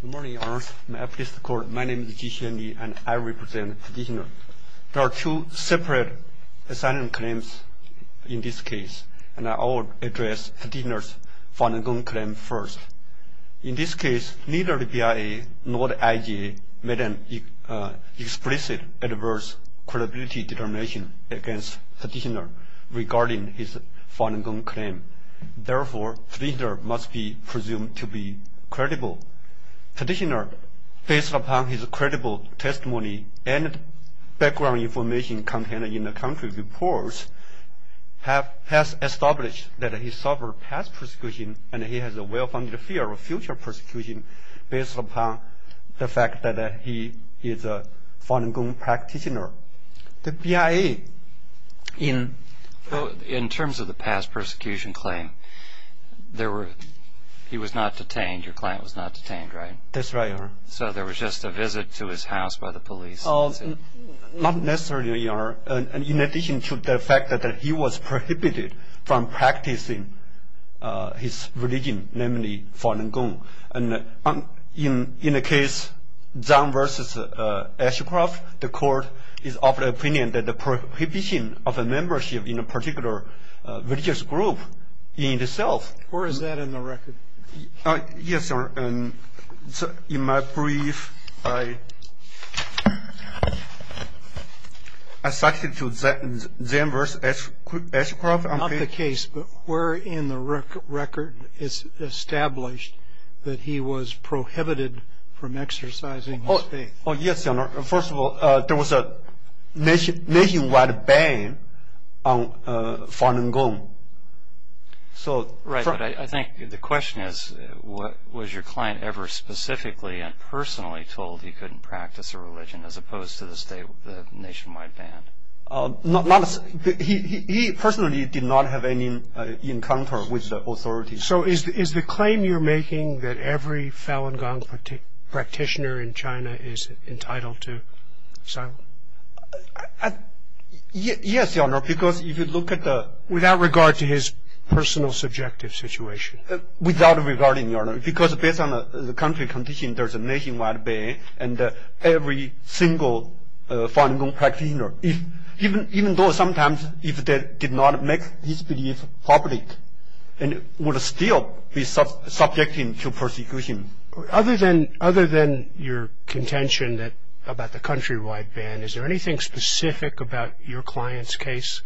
Good morning, Your Honor. My name is Ji Hsien-Li, and I represent the petitioner. There are two separate asylum claims in this case, and I will address the petitioner's Falun Gong claim first. In this case, neither the BIA nor the IGA made an explicit adverse credibility determination against the petitioner regarding his Falun Gong claim. Therefore, the petitioner must be presumed to be credible. The petitioner, based upon his credible testimony and background information contained in the country reports, has established that he suffered past persecution and he has a well-founded fear of future persecution based upon the fact that he is a Falun Gong practitioner. In terms of the past persecution claim, he was not detained, your client was not detained, right? That's right, Your Honor. So there was just a visit to his house by the police? Not necessarily, Your Honor. In addition to the fact that he was prohibited from practicing his religion, namely Falun Gong. In the case Zhang v. Ashcroft, the court is of the opinion that the prohibition of a membership in a particular religious group in itself. Where is that in the record? Yes, Your Honor. In my brief, I substitute Zhang v. Ashcroft. Not the case, but where in the record is established that he was prohibited from exercising his faith? Yes, Your Honor. First of all, there was a nationwide ban on Falun Gong. Right, but I think the question is, was your client ever specifically and personally told he couldn't practice a religion as opposed to the nationwide ban? He personally did not have any encounter with the authorities. So is the claim you're making that every Falun Gong practitioner in China is entitled to asylum? Yes, Your Honor, because if you look at the... Without regard to his personal subjective situation? Without regarding, Your Honor, because based on the country condition, there's a nationwide ban, and every single Falun Gong practitioner, even though sometimes if they did not make this belief public, would still be subjecting to persecution. Other than your contention about the countrywide ban, is there anything specific about your client's case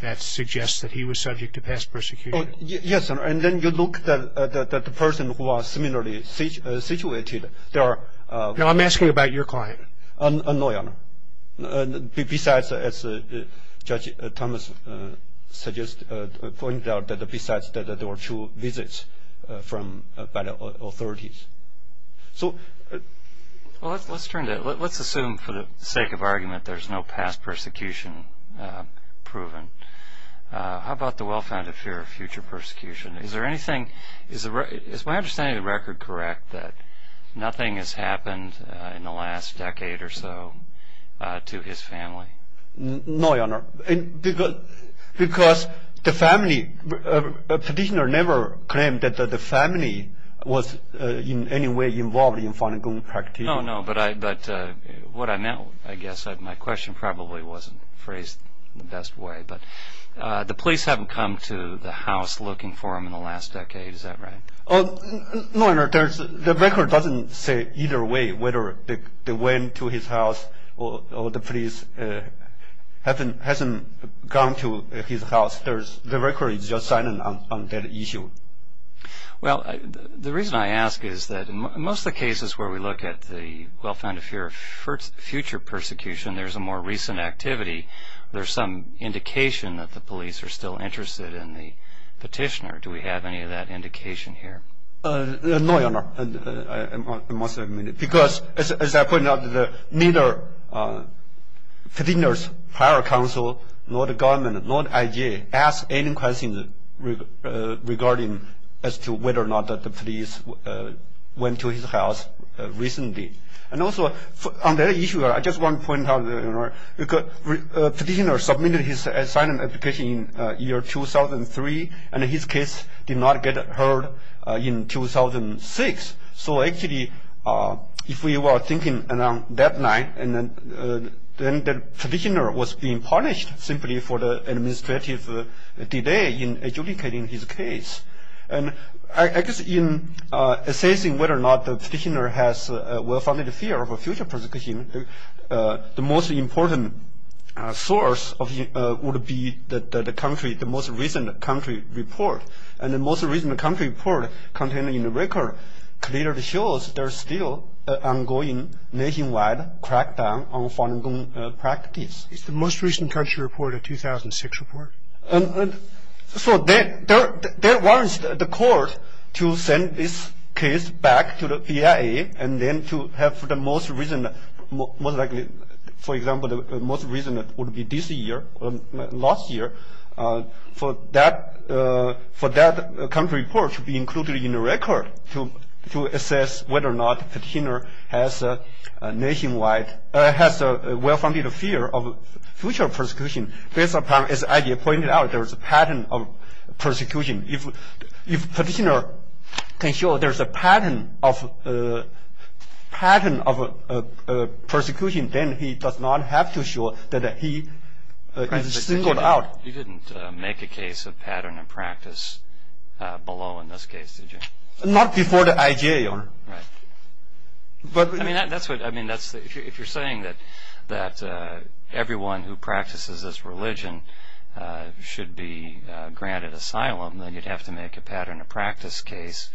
that suggests that he was subject to past persecution? Yes, Your Honor, and then you look at the person who was similarly situated. No, I'm asking about your client. No, Your Honor. Besides, as Judge Thomas pointed out, besides that there were two visits by the authorities. Well, let's assume for the sake of argument there's no past persecution proven. How about the well-founded fear of future persecution? Is there anything, is my understanding of the record correct that nothing has happened in the last decade or so to his family? No, Your Honor, because the family, the petitioner never claimed that the family was in any way involved in Falun Gong practice. No, no, but what I meant, I guess, my question probably wasn't phrased in the best way, but the police haven't come to the house looking for him in the last decade, is that right? No, Your Honor, the record doesn't say either way whether they went to his house or the police hasn't gone to his house. The record is just silent on that issue. Well, the reason I ask is that in most of the cases where we look at the well-founded fear of future persecution, there's a more recent activity, there's some indication that the police are still interested in the petitioner. Do we have any of that indication here? No, Your Honor, I must admit it, because as I pointed out, neither Petitioner's prior counsel nor the government, nor the IG, asked any questions regarding as to whether or not the police went to his house recently. And also, on that issue, I just want to point out, Your Honor, Petitioner submitted his asylum application in the year 2003, and his case did not get heard in 2006. So actually, if we were thinking around that line, then the petitioner was being punished simply for the administrative delay in adjudicating his case. And I guess in assessing whether or not the petitioner has a well-founded fear of future persecution, the most important source would be the country, the most recent country report. And the most recent country report contained in the record clearly shows there's still an ongoing nationwide crackdown on Falun Gong practice. Is the most recent country report a 2006 report? So there was the court to send this case back to the PIA and then to have the most recent, most likely, for example, the most recent would be this year, last year, for that country report to be included in the record to assess whether or not Petitioner has a nationwide, has a well-founded fear of future persecution. Based upon, as I.J. pointed out, there's a pattern of persecution. If Petitioner can show there's a pattern of persecution, then he does not have to show that he is singled out. You didn't make a case of pattern in practice below in this case, did you? Not before the I.J., Your Honor. Right. I mean, if you're saying that everyone who practices this religion should be granted asylum, then you'd have to make a pattern of practice case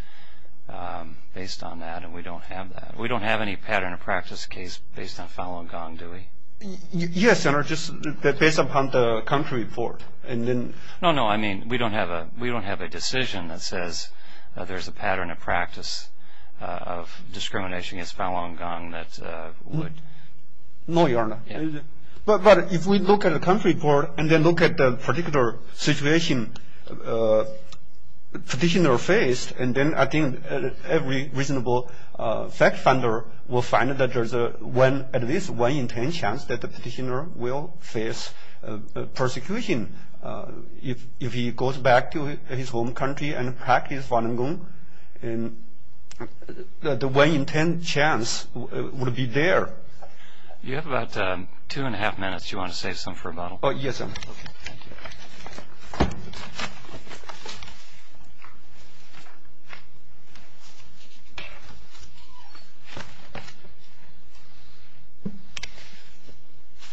based on that, and we don't have that. We don't have any pattern of practice case based on Falun Gong, do we? Yes, Your Honor, just based upon the country report. No, no, I mean, we don't have a decision that says there's a pattern of practice of discrimination against Falun Gong that would. No, Your Honor. But if we look at the country report and then look at the particular situation Petitioner faced, and then I think every reasonable fact finder will find that there's at least one in ten chance that the Petitioner will face persecution. If he goes back to his home country and practices Falun Gong, the one in ten chance would be there. You have about two and a half minutes. Do you want to save some for a bottle? Yes, sir. Okay, thank you.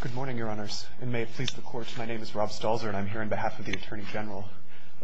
Good morning, Your Honors, and may it please the Court. My name is Rob Stalzer, and I'm here on behalf of the Attorney General.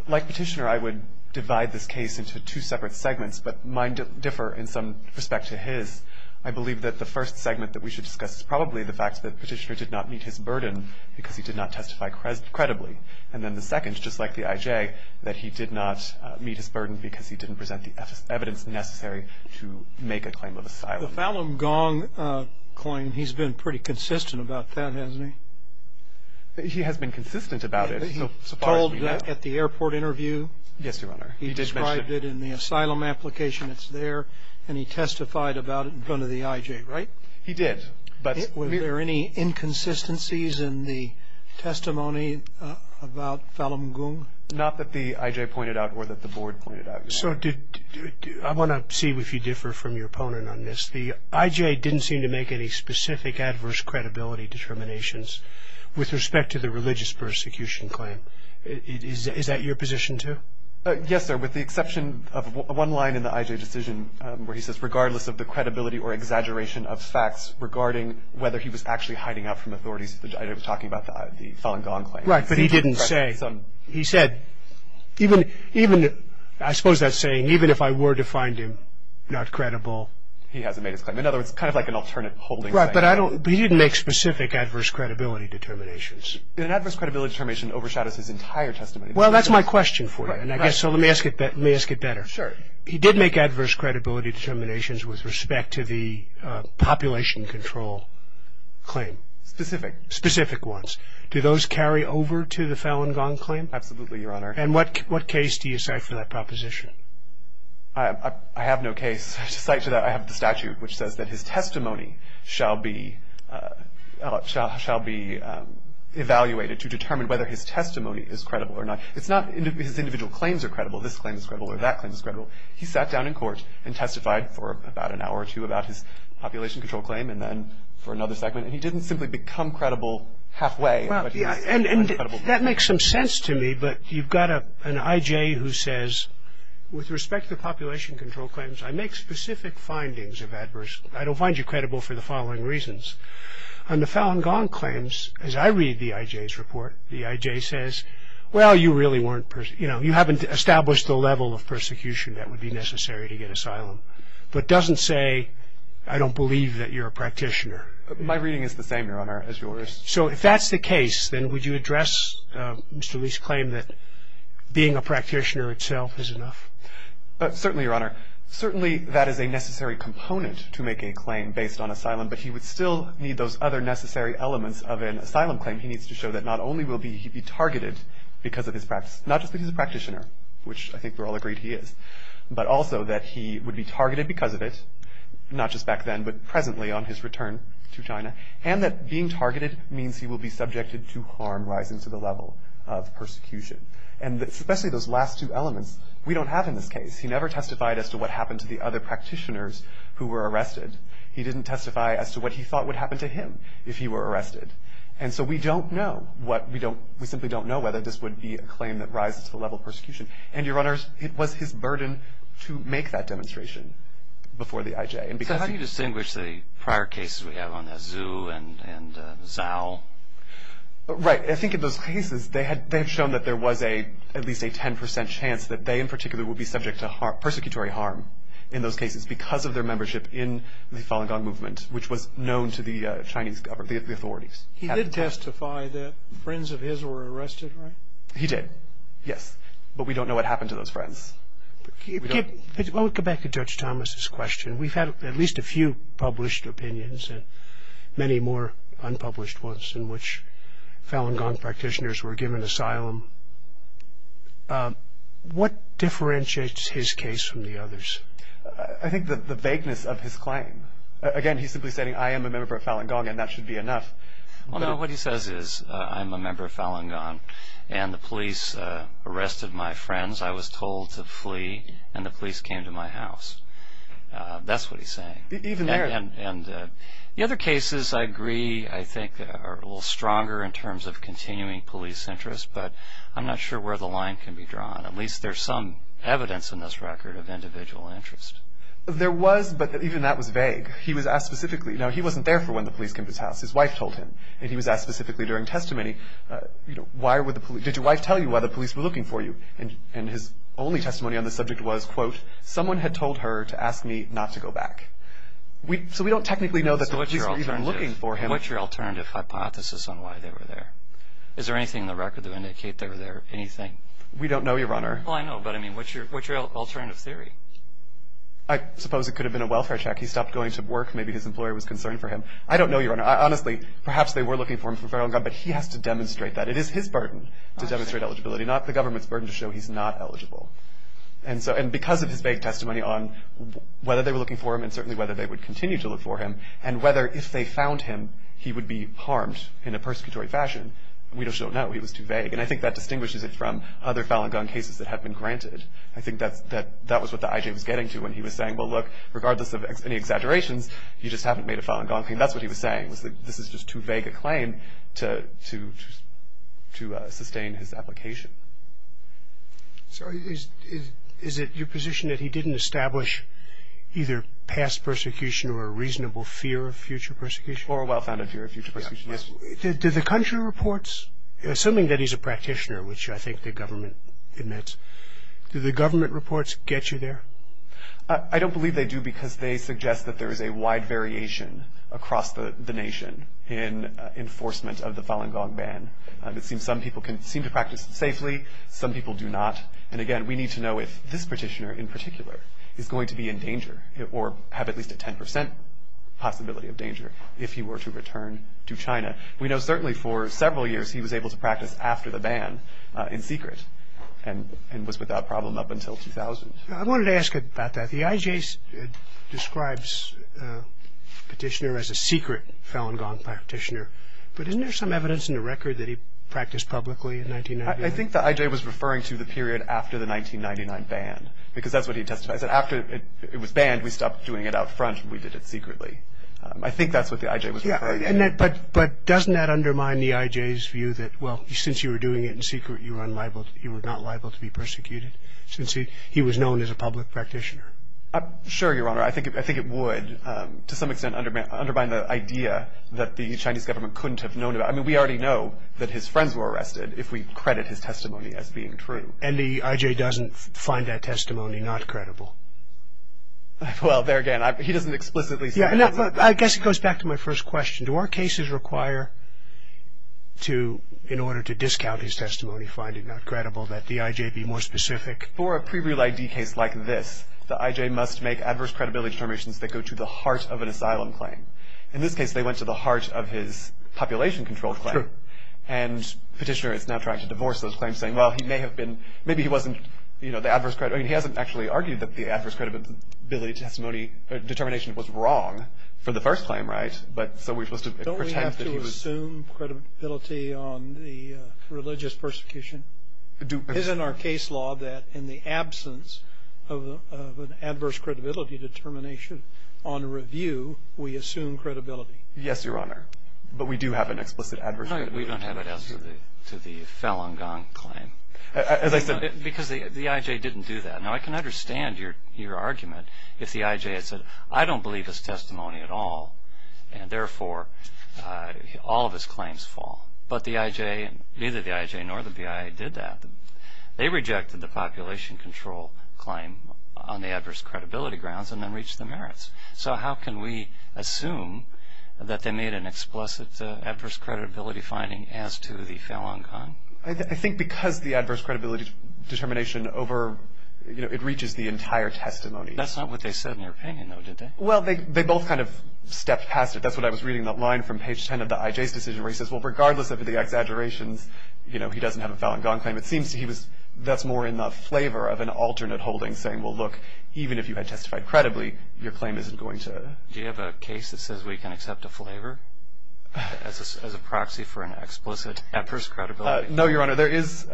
Like Petitioner, I would divide this case into two separate segments, but mine differ in some respect to his. I believe that the first segment that we should discuss is probably the fact that Petitioner did not meet his burden because he did not testify credibly. And then the second, just like the IJ, that he did not meet his burden because he didn't present the evidence necessary to make a claim of asylum. The Falun Gong claim, he's been pretty consistent about that, hasn't he? He has been consistent about it. He told at the airport interview. Yes, Your Honor. He described it in the asylum application that's there. And he testified about it in front of the IJ, right? He did. Were there any inconsistencies in the testimony about Falun Gong? Not that the IJ pointed out or that the Board pointed out, Your Honor. So I want to see if you differ from your opponent on this. The IJ didn't seem to make any specific adverse credibility determinations with respect to the religious persecution claim. Is that your position, too? Yes, sir, with the exception of one line in the IJ decision where he says, regardless of the credibility or exaggeration of facts regarding whether he was actually hiding out from authorities, the IJ was talking about the Falun Gong claim. Right, but he didn't say. He said, even, I suppose that's saying, even if I were to find him not credible. He hasn't made his claim. In other words, kind of like an alternate holding. Right, but he didn't make specific adverse credibility determinations. An adverse credibility determination overshadows his entire testimony. Well, that's my question for you. So let me ask it better. Sure. He did make adverse credibility determinations with respect to the population control claim. Specific. Specific ones. Do those carry over to the Falun Gong claim? Absolutely, Your Honor. And what case do you cite for that proposition? I have no case to cite to that. I have the statute which says that his testimony shall be evaluated to determine whether his testimony is credible or not. It's not his individual claims are credible, this claim is credible, or that claim is credible. He sat down in court and testified for about an hour or two about his population control claim and then for another segment. And he didn't simply become credible halfway. And that makes some sense to me, but you've got an IJ who says, With respect to the population control claims, I make specific findings of adverse. I don't find you credible for the following reasons. On the Falun Gong claims, as I read the IJ's report, the IJ says, Well, you haven't established the level of persecution that would be necessary to get asylum. But doesn't say, I don't believe that you're a practitioner. My reading is the same, Your Honor, as yours. So if that's the case, then would you address Mr. Lee's claim that being a practitioner itself is enough? Certainly, Your Honor. Certainly that is a necessary component to make a claim based on asylum, but he would still need those other necessary elements of an asylum claim. He needs to show that not only will he be targeted because of his practice, not just because he's a practitioner, which I think we're all agreed he is, but also that he would be targeted because of it, not just back then, but presently on his return to China, and that being targeted means he will be subjected to harm rising to the level of persecution. And especially those last two elements, we don't have in this case. He never testified as to what happened to the other practitioners who were arrested. He didn't testify as to what he thought would happen to him if he were arrested. And so we don't know. We simply don't know whether this would be a claim that rises to the level of persecution. And, Your Honors, it was his burden to make that demonstration before the IJ. So how do you distinguish the prior cases we have on the Zhu and Zhao? Right. I think in those cases they had shown that there was at least a 10 percent chance that they in particular would be subject to persecutory harm in those cases because of their membership in the Falun Gong movement, which was known to the Chinese authorities. He did testify that friends of his were arrested, right? He did, yes. But we don't know what happened to those friends. I want to go back to Judge Thomas's question. We've had at least a few published opinions and many more unpublished ones in which Falun Gong practitioners were given asylum. What differentiates his case from the others? I think the vagueness of his claim. Again, he's simply saying, I am a member of Falun Gong and that should be enough. Well, no, what he says is, I'm a member of Falun Gong and the police arrested my friends. I was told to flee and the police came to my house. That's what he's saying. Even there. And the other cases, I agree, I think are a little stronger in terms of continuing police interest, but I'm not sure where the line can be drawn. At least there's some evidence in this record of individual interest. There was, but even that was vague. He was asked specifically. Now, he wasn't there for when the police came to his house. His wife told him. And he was asked specifically during testimony, did your wife tell you why the police were looking for you? And his only testimony on the subject was, quote, someone had told her to ask me not to go back. So we don't technically know that the police were even looking for him. What's your alternative hypothesis on why they were there? Is there anything in the record to indicate they were there? Anything? We don't know, Your Honor. Well, I know, but I mean, what's your alternative theory? I suppose it could have been a welfare check. Maybe his employer was concerned for him. I don't know, Your Honor. Honestly, perhaps they were looking for him for file-and-gone, but he has to demonstrate that. It is his burden to demonstrate eligibility, not the government's burden to show he's not eligible. And because of his vague testimony on whether they were looking for him and certainly whether they would continue to look for him and whether if they found him he would be harmed in a persecutory fashion, we just don't know. He was too vague. And I think that distinguishes it from other file-and-gone cases that have been granted. I think that was what the I.J. was getting to when he was saying, well, look, regardless of any exaggerations, you just haven't made a file-and-gone claim. And that's what he was saying, was that this is just too vague a claim to sustain his application. So is it your position that he didn't establish either past persecution or a reasonable fear of future persecution? Or a well-founded fear of future persecution, yes. Did the country reports, assuming that he's a practitioner, which I think the government admits, did the government reports get you there? I don't believe they do because they suggest that there is a wide variation across the nation in enforcement of the file-and-gone ban. It seems some people can seem to practice it safely. Some people do not. And again, we need to know if this petitioner in particular is going to be in danger or have at least a 10 percent possibility of danger if he were to return to China. We know certainly for several years he was able to practice after the ban in secret and was without problem up until 2000. I wanted to ask about that. The IJ describes the petitioner as a secret file-and-gone practitioner, but isn't there some evidence in the record that he practiced publicly in 1999? I think the IJ was referring to the period after the 1999 ban because that's what he testified. He said, after it was banned, we stopped doing it out front and we did it secretly. I think that's what the IJ was referring to. But doesn't that undermine the IJ's view that, well, since you were doing it in secret, you were not liable to be persecuted since he was known as a public practitioner? Sure, Your Honor. I think it would, to some extent, undermine the idea that the Chinese government couldn't have known about it. I mean, we already know that his friends were arrested if we credit his testimony as being true. And the IJ doesn't find that testimony not credible? Well, there again, he doesn't explicitly say that. I guess it goes back to my first question. Do our cases require, in order to discount his testimony, find it not credible, that the IJ be more specific? For a pre-real ID case like this, the IJ must make adverse credibility determinations that go to the heart of an asylum claim. In this case, they went to the heart of his population control claim. True. And the petitioner is now trying to divorce those claims, saying, well, he may have been, maybe he wasn't, you know, the adverse credibility. I mean, he hasn't actually argued that the adverse credibility determination was wrong for the first claim, right? But so we're supposed to pretend that he was. Do we assume credibility on the religious persecution? Isn't our case law that in the absence of an adverse credibility determination on review, we assume credibility? Yes, Your Honor. But we do have an explicit adverse credibility. We don't have it as to the Falun Gong claim. As I said. Because the IJ didn't do that. Now, I can understand your argument if the IJ had said, I don't believe his testimony at all, and therefore all of his claims fall. But the IJ, neither the IJ nor the BIA did that. They rejected the population control claim on the adverse credibility grounds and then reached the merits. So how can we assume that they made an explicit adverse credibility finding as to the Falun Gong? I think because the adverse credibility determination over, you know, it reaches the entire testimony. That's not what they said in their opinion, though, did they? Well, they both kind of stepped past it. That's what I was reading in the line from page 10 of the IJ's decision where he says, well, regardless of the exaggerations, you know, he doesn't have a Falun Gong claim. It seems to me that's more in the flavor of an alternate holding saying, well, look, even if you had testified credibly, your claim isn't going to. Do you have a case that says we can accept a flavor as a proxy for an explicit adverse credibility? No, Your Honor. There is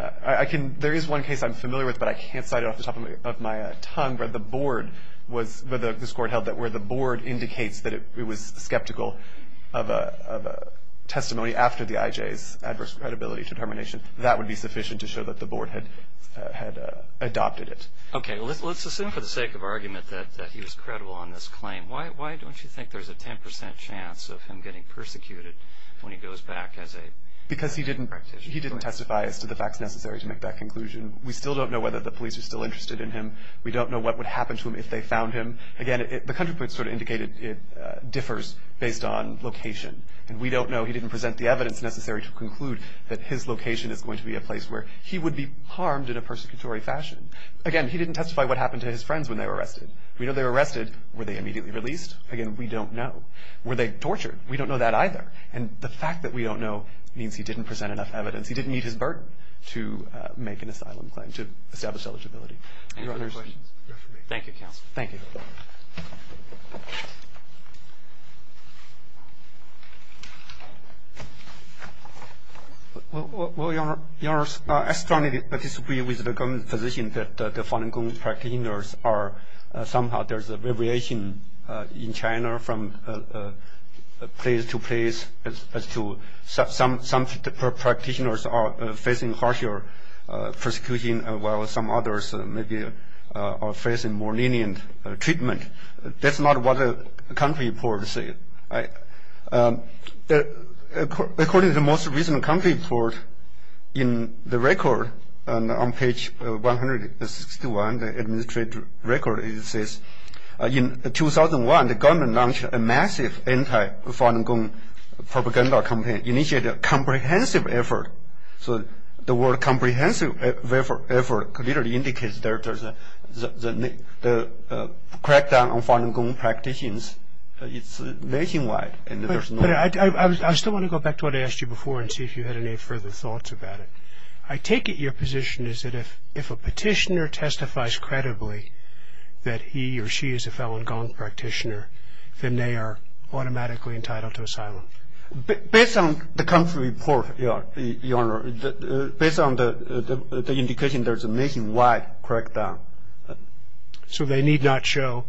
one case I'm familiar with, but I can't cite it off the top of my tongue, where the board was – where this Court held that where the board indicates that it was skeptical of a testimony after the IJ's adverse credibility determination, that would be sufficient to show that the board had adopted it. Okay. Well, let's assume for the sake of argument that he was credible on this claim. Why don't you think there's a 10 percent chance of him getting persecuted when he goes back as a practitioner? Because he didn't testify as to the facts necessary to make that conclusion. We still don't know whether the police are still interested in him. We don't know what would happen to him if they found him. Again, the counterpoint sort of indicated it differs based on location. And we don't know. He didn't present the evidence necessary to conclude that his location is going to be a place where he would be harmed in a persecutory fashion. Again, he didn't testify what happened to his friends when they were arrested. We know they were arrested. Were they immediately released? Again, we don't know. Were they tortured? We don't know that either. And the fact that we don't know means he didn't present enough evidence. He didn't meet his burden to make an asylum claim, to establish eligibility. Thank you, Counselor. Thank you. Well, Your Honor, I strongly disagree with the government position that the Falun Gong practitioners are somehow there's a variation in China from place to place as to some practitioners are facing harsher persecution while some others maybe are facing more lenient treatment. That's not what the country reports say. According to the most recent country report in the record on page 161, the administrative record, it says in 2001 the government launched a massive anti-Falun Gong propaganda campaign, initiated a comprehensive effort. So the word comprehensive effort clearly indicates the crackdown on Falun Gong practitioners is nationwide. But I still want to go back to what I asked you before and see if you had any further thoughts about it. I take it your position is that if a petitioner testifies credibly that he or she is a Falun Gong practitioner, Based on the country report, Your Honor, based on the indication, there's a nationwide crackdown. So they need not show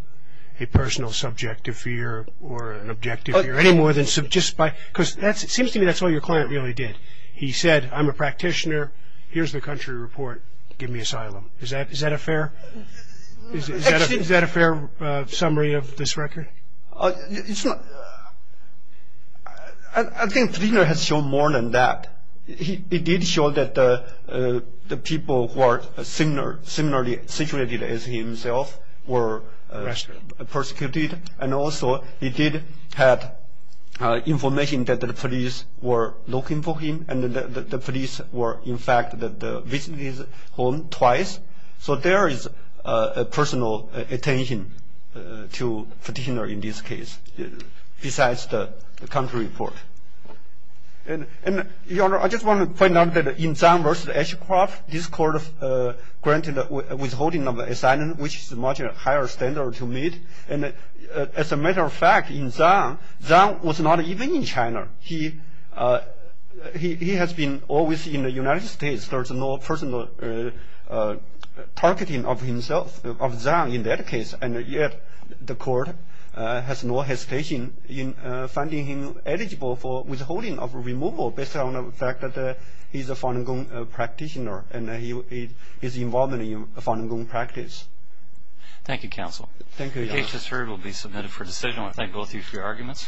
a personal subjective fear or an objective fear any more than just by – because it seems to me that's all your client really did. He said, I'm a practitioner. Here's the country report. Give me asylum. Is that a fair summary of this record? It's not – I think the petitioner has shown more than that. He did show that the people who are similarly situated as himself were persecuted. And also he did have information that the police were looking for him and that the police were in fact visiting his home twice. So there is a personal attention to petitioner in this case besides the country report. And, Your Honor, I just want to point out that in Zhang versus Ashcroft, this court granted a withholding of asylum, which is a much higher standard to meet. And as a matter of fact, in Zhang, Zhang was not even in China. He has been always in the United States. There's no personal targeting of Zhang in that case. And yet the court has no hesitation in finding him eligible for withholding of removal based on the fact that he's a Falun Gong practitioner and his involvement in Falun Gong practice. Thank you, Counsel. Thank you, Your Honor. The case just heard will be submitted for decision. I want to thank both of you for your arguments.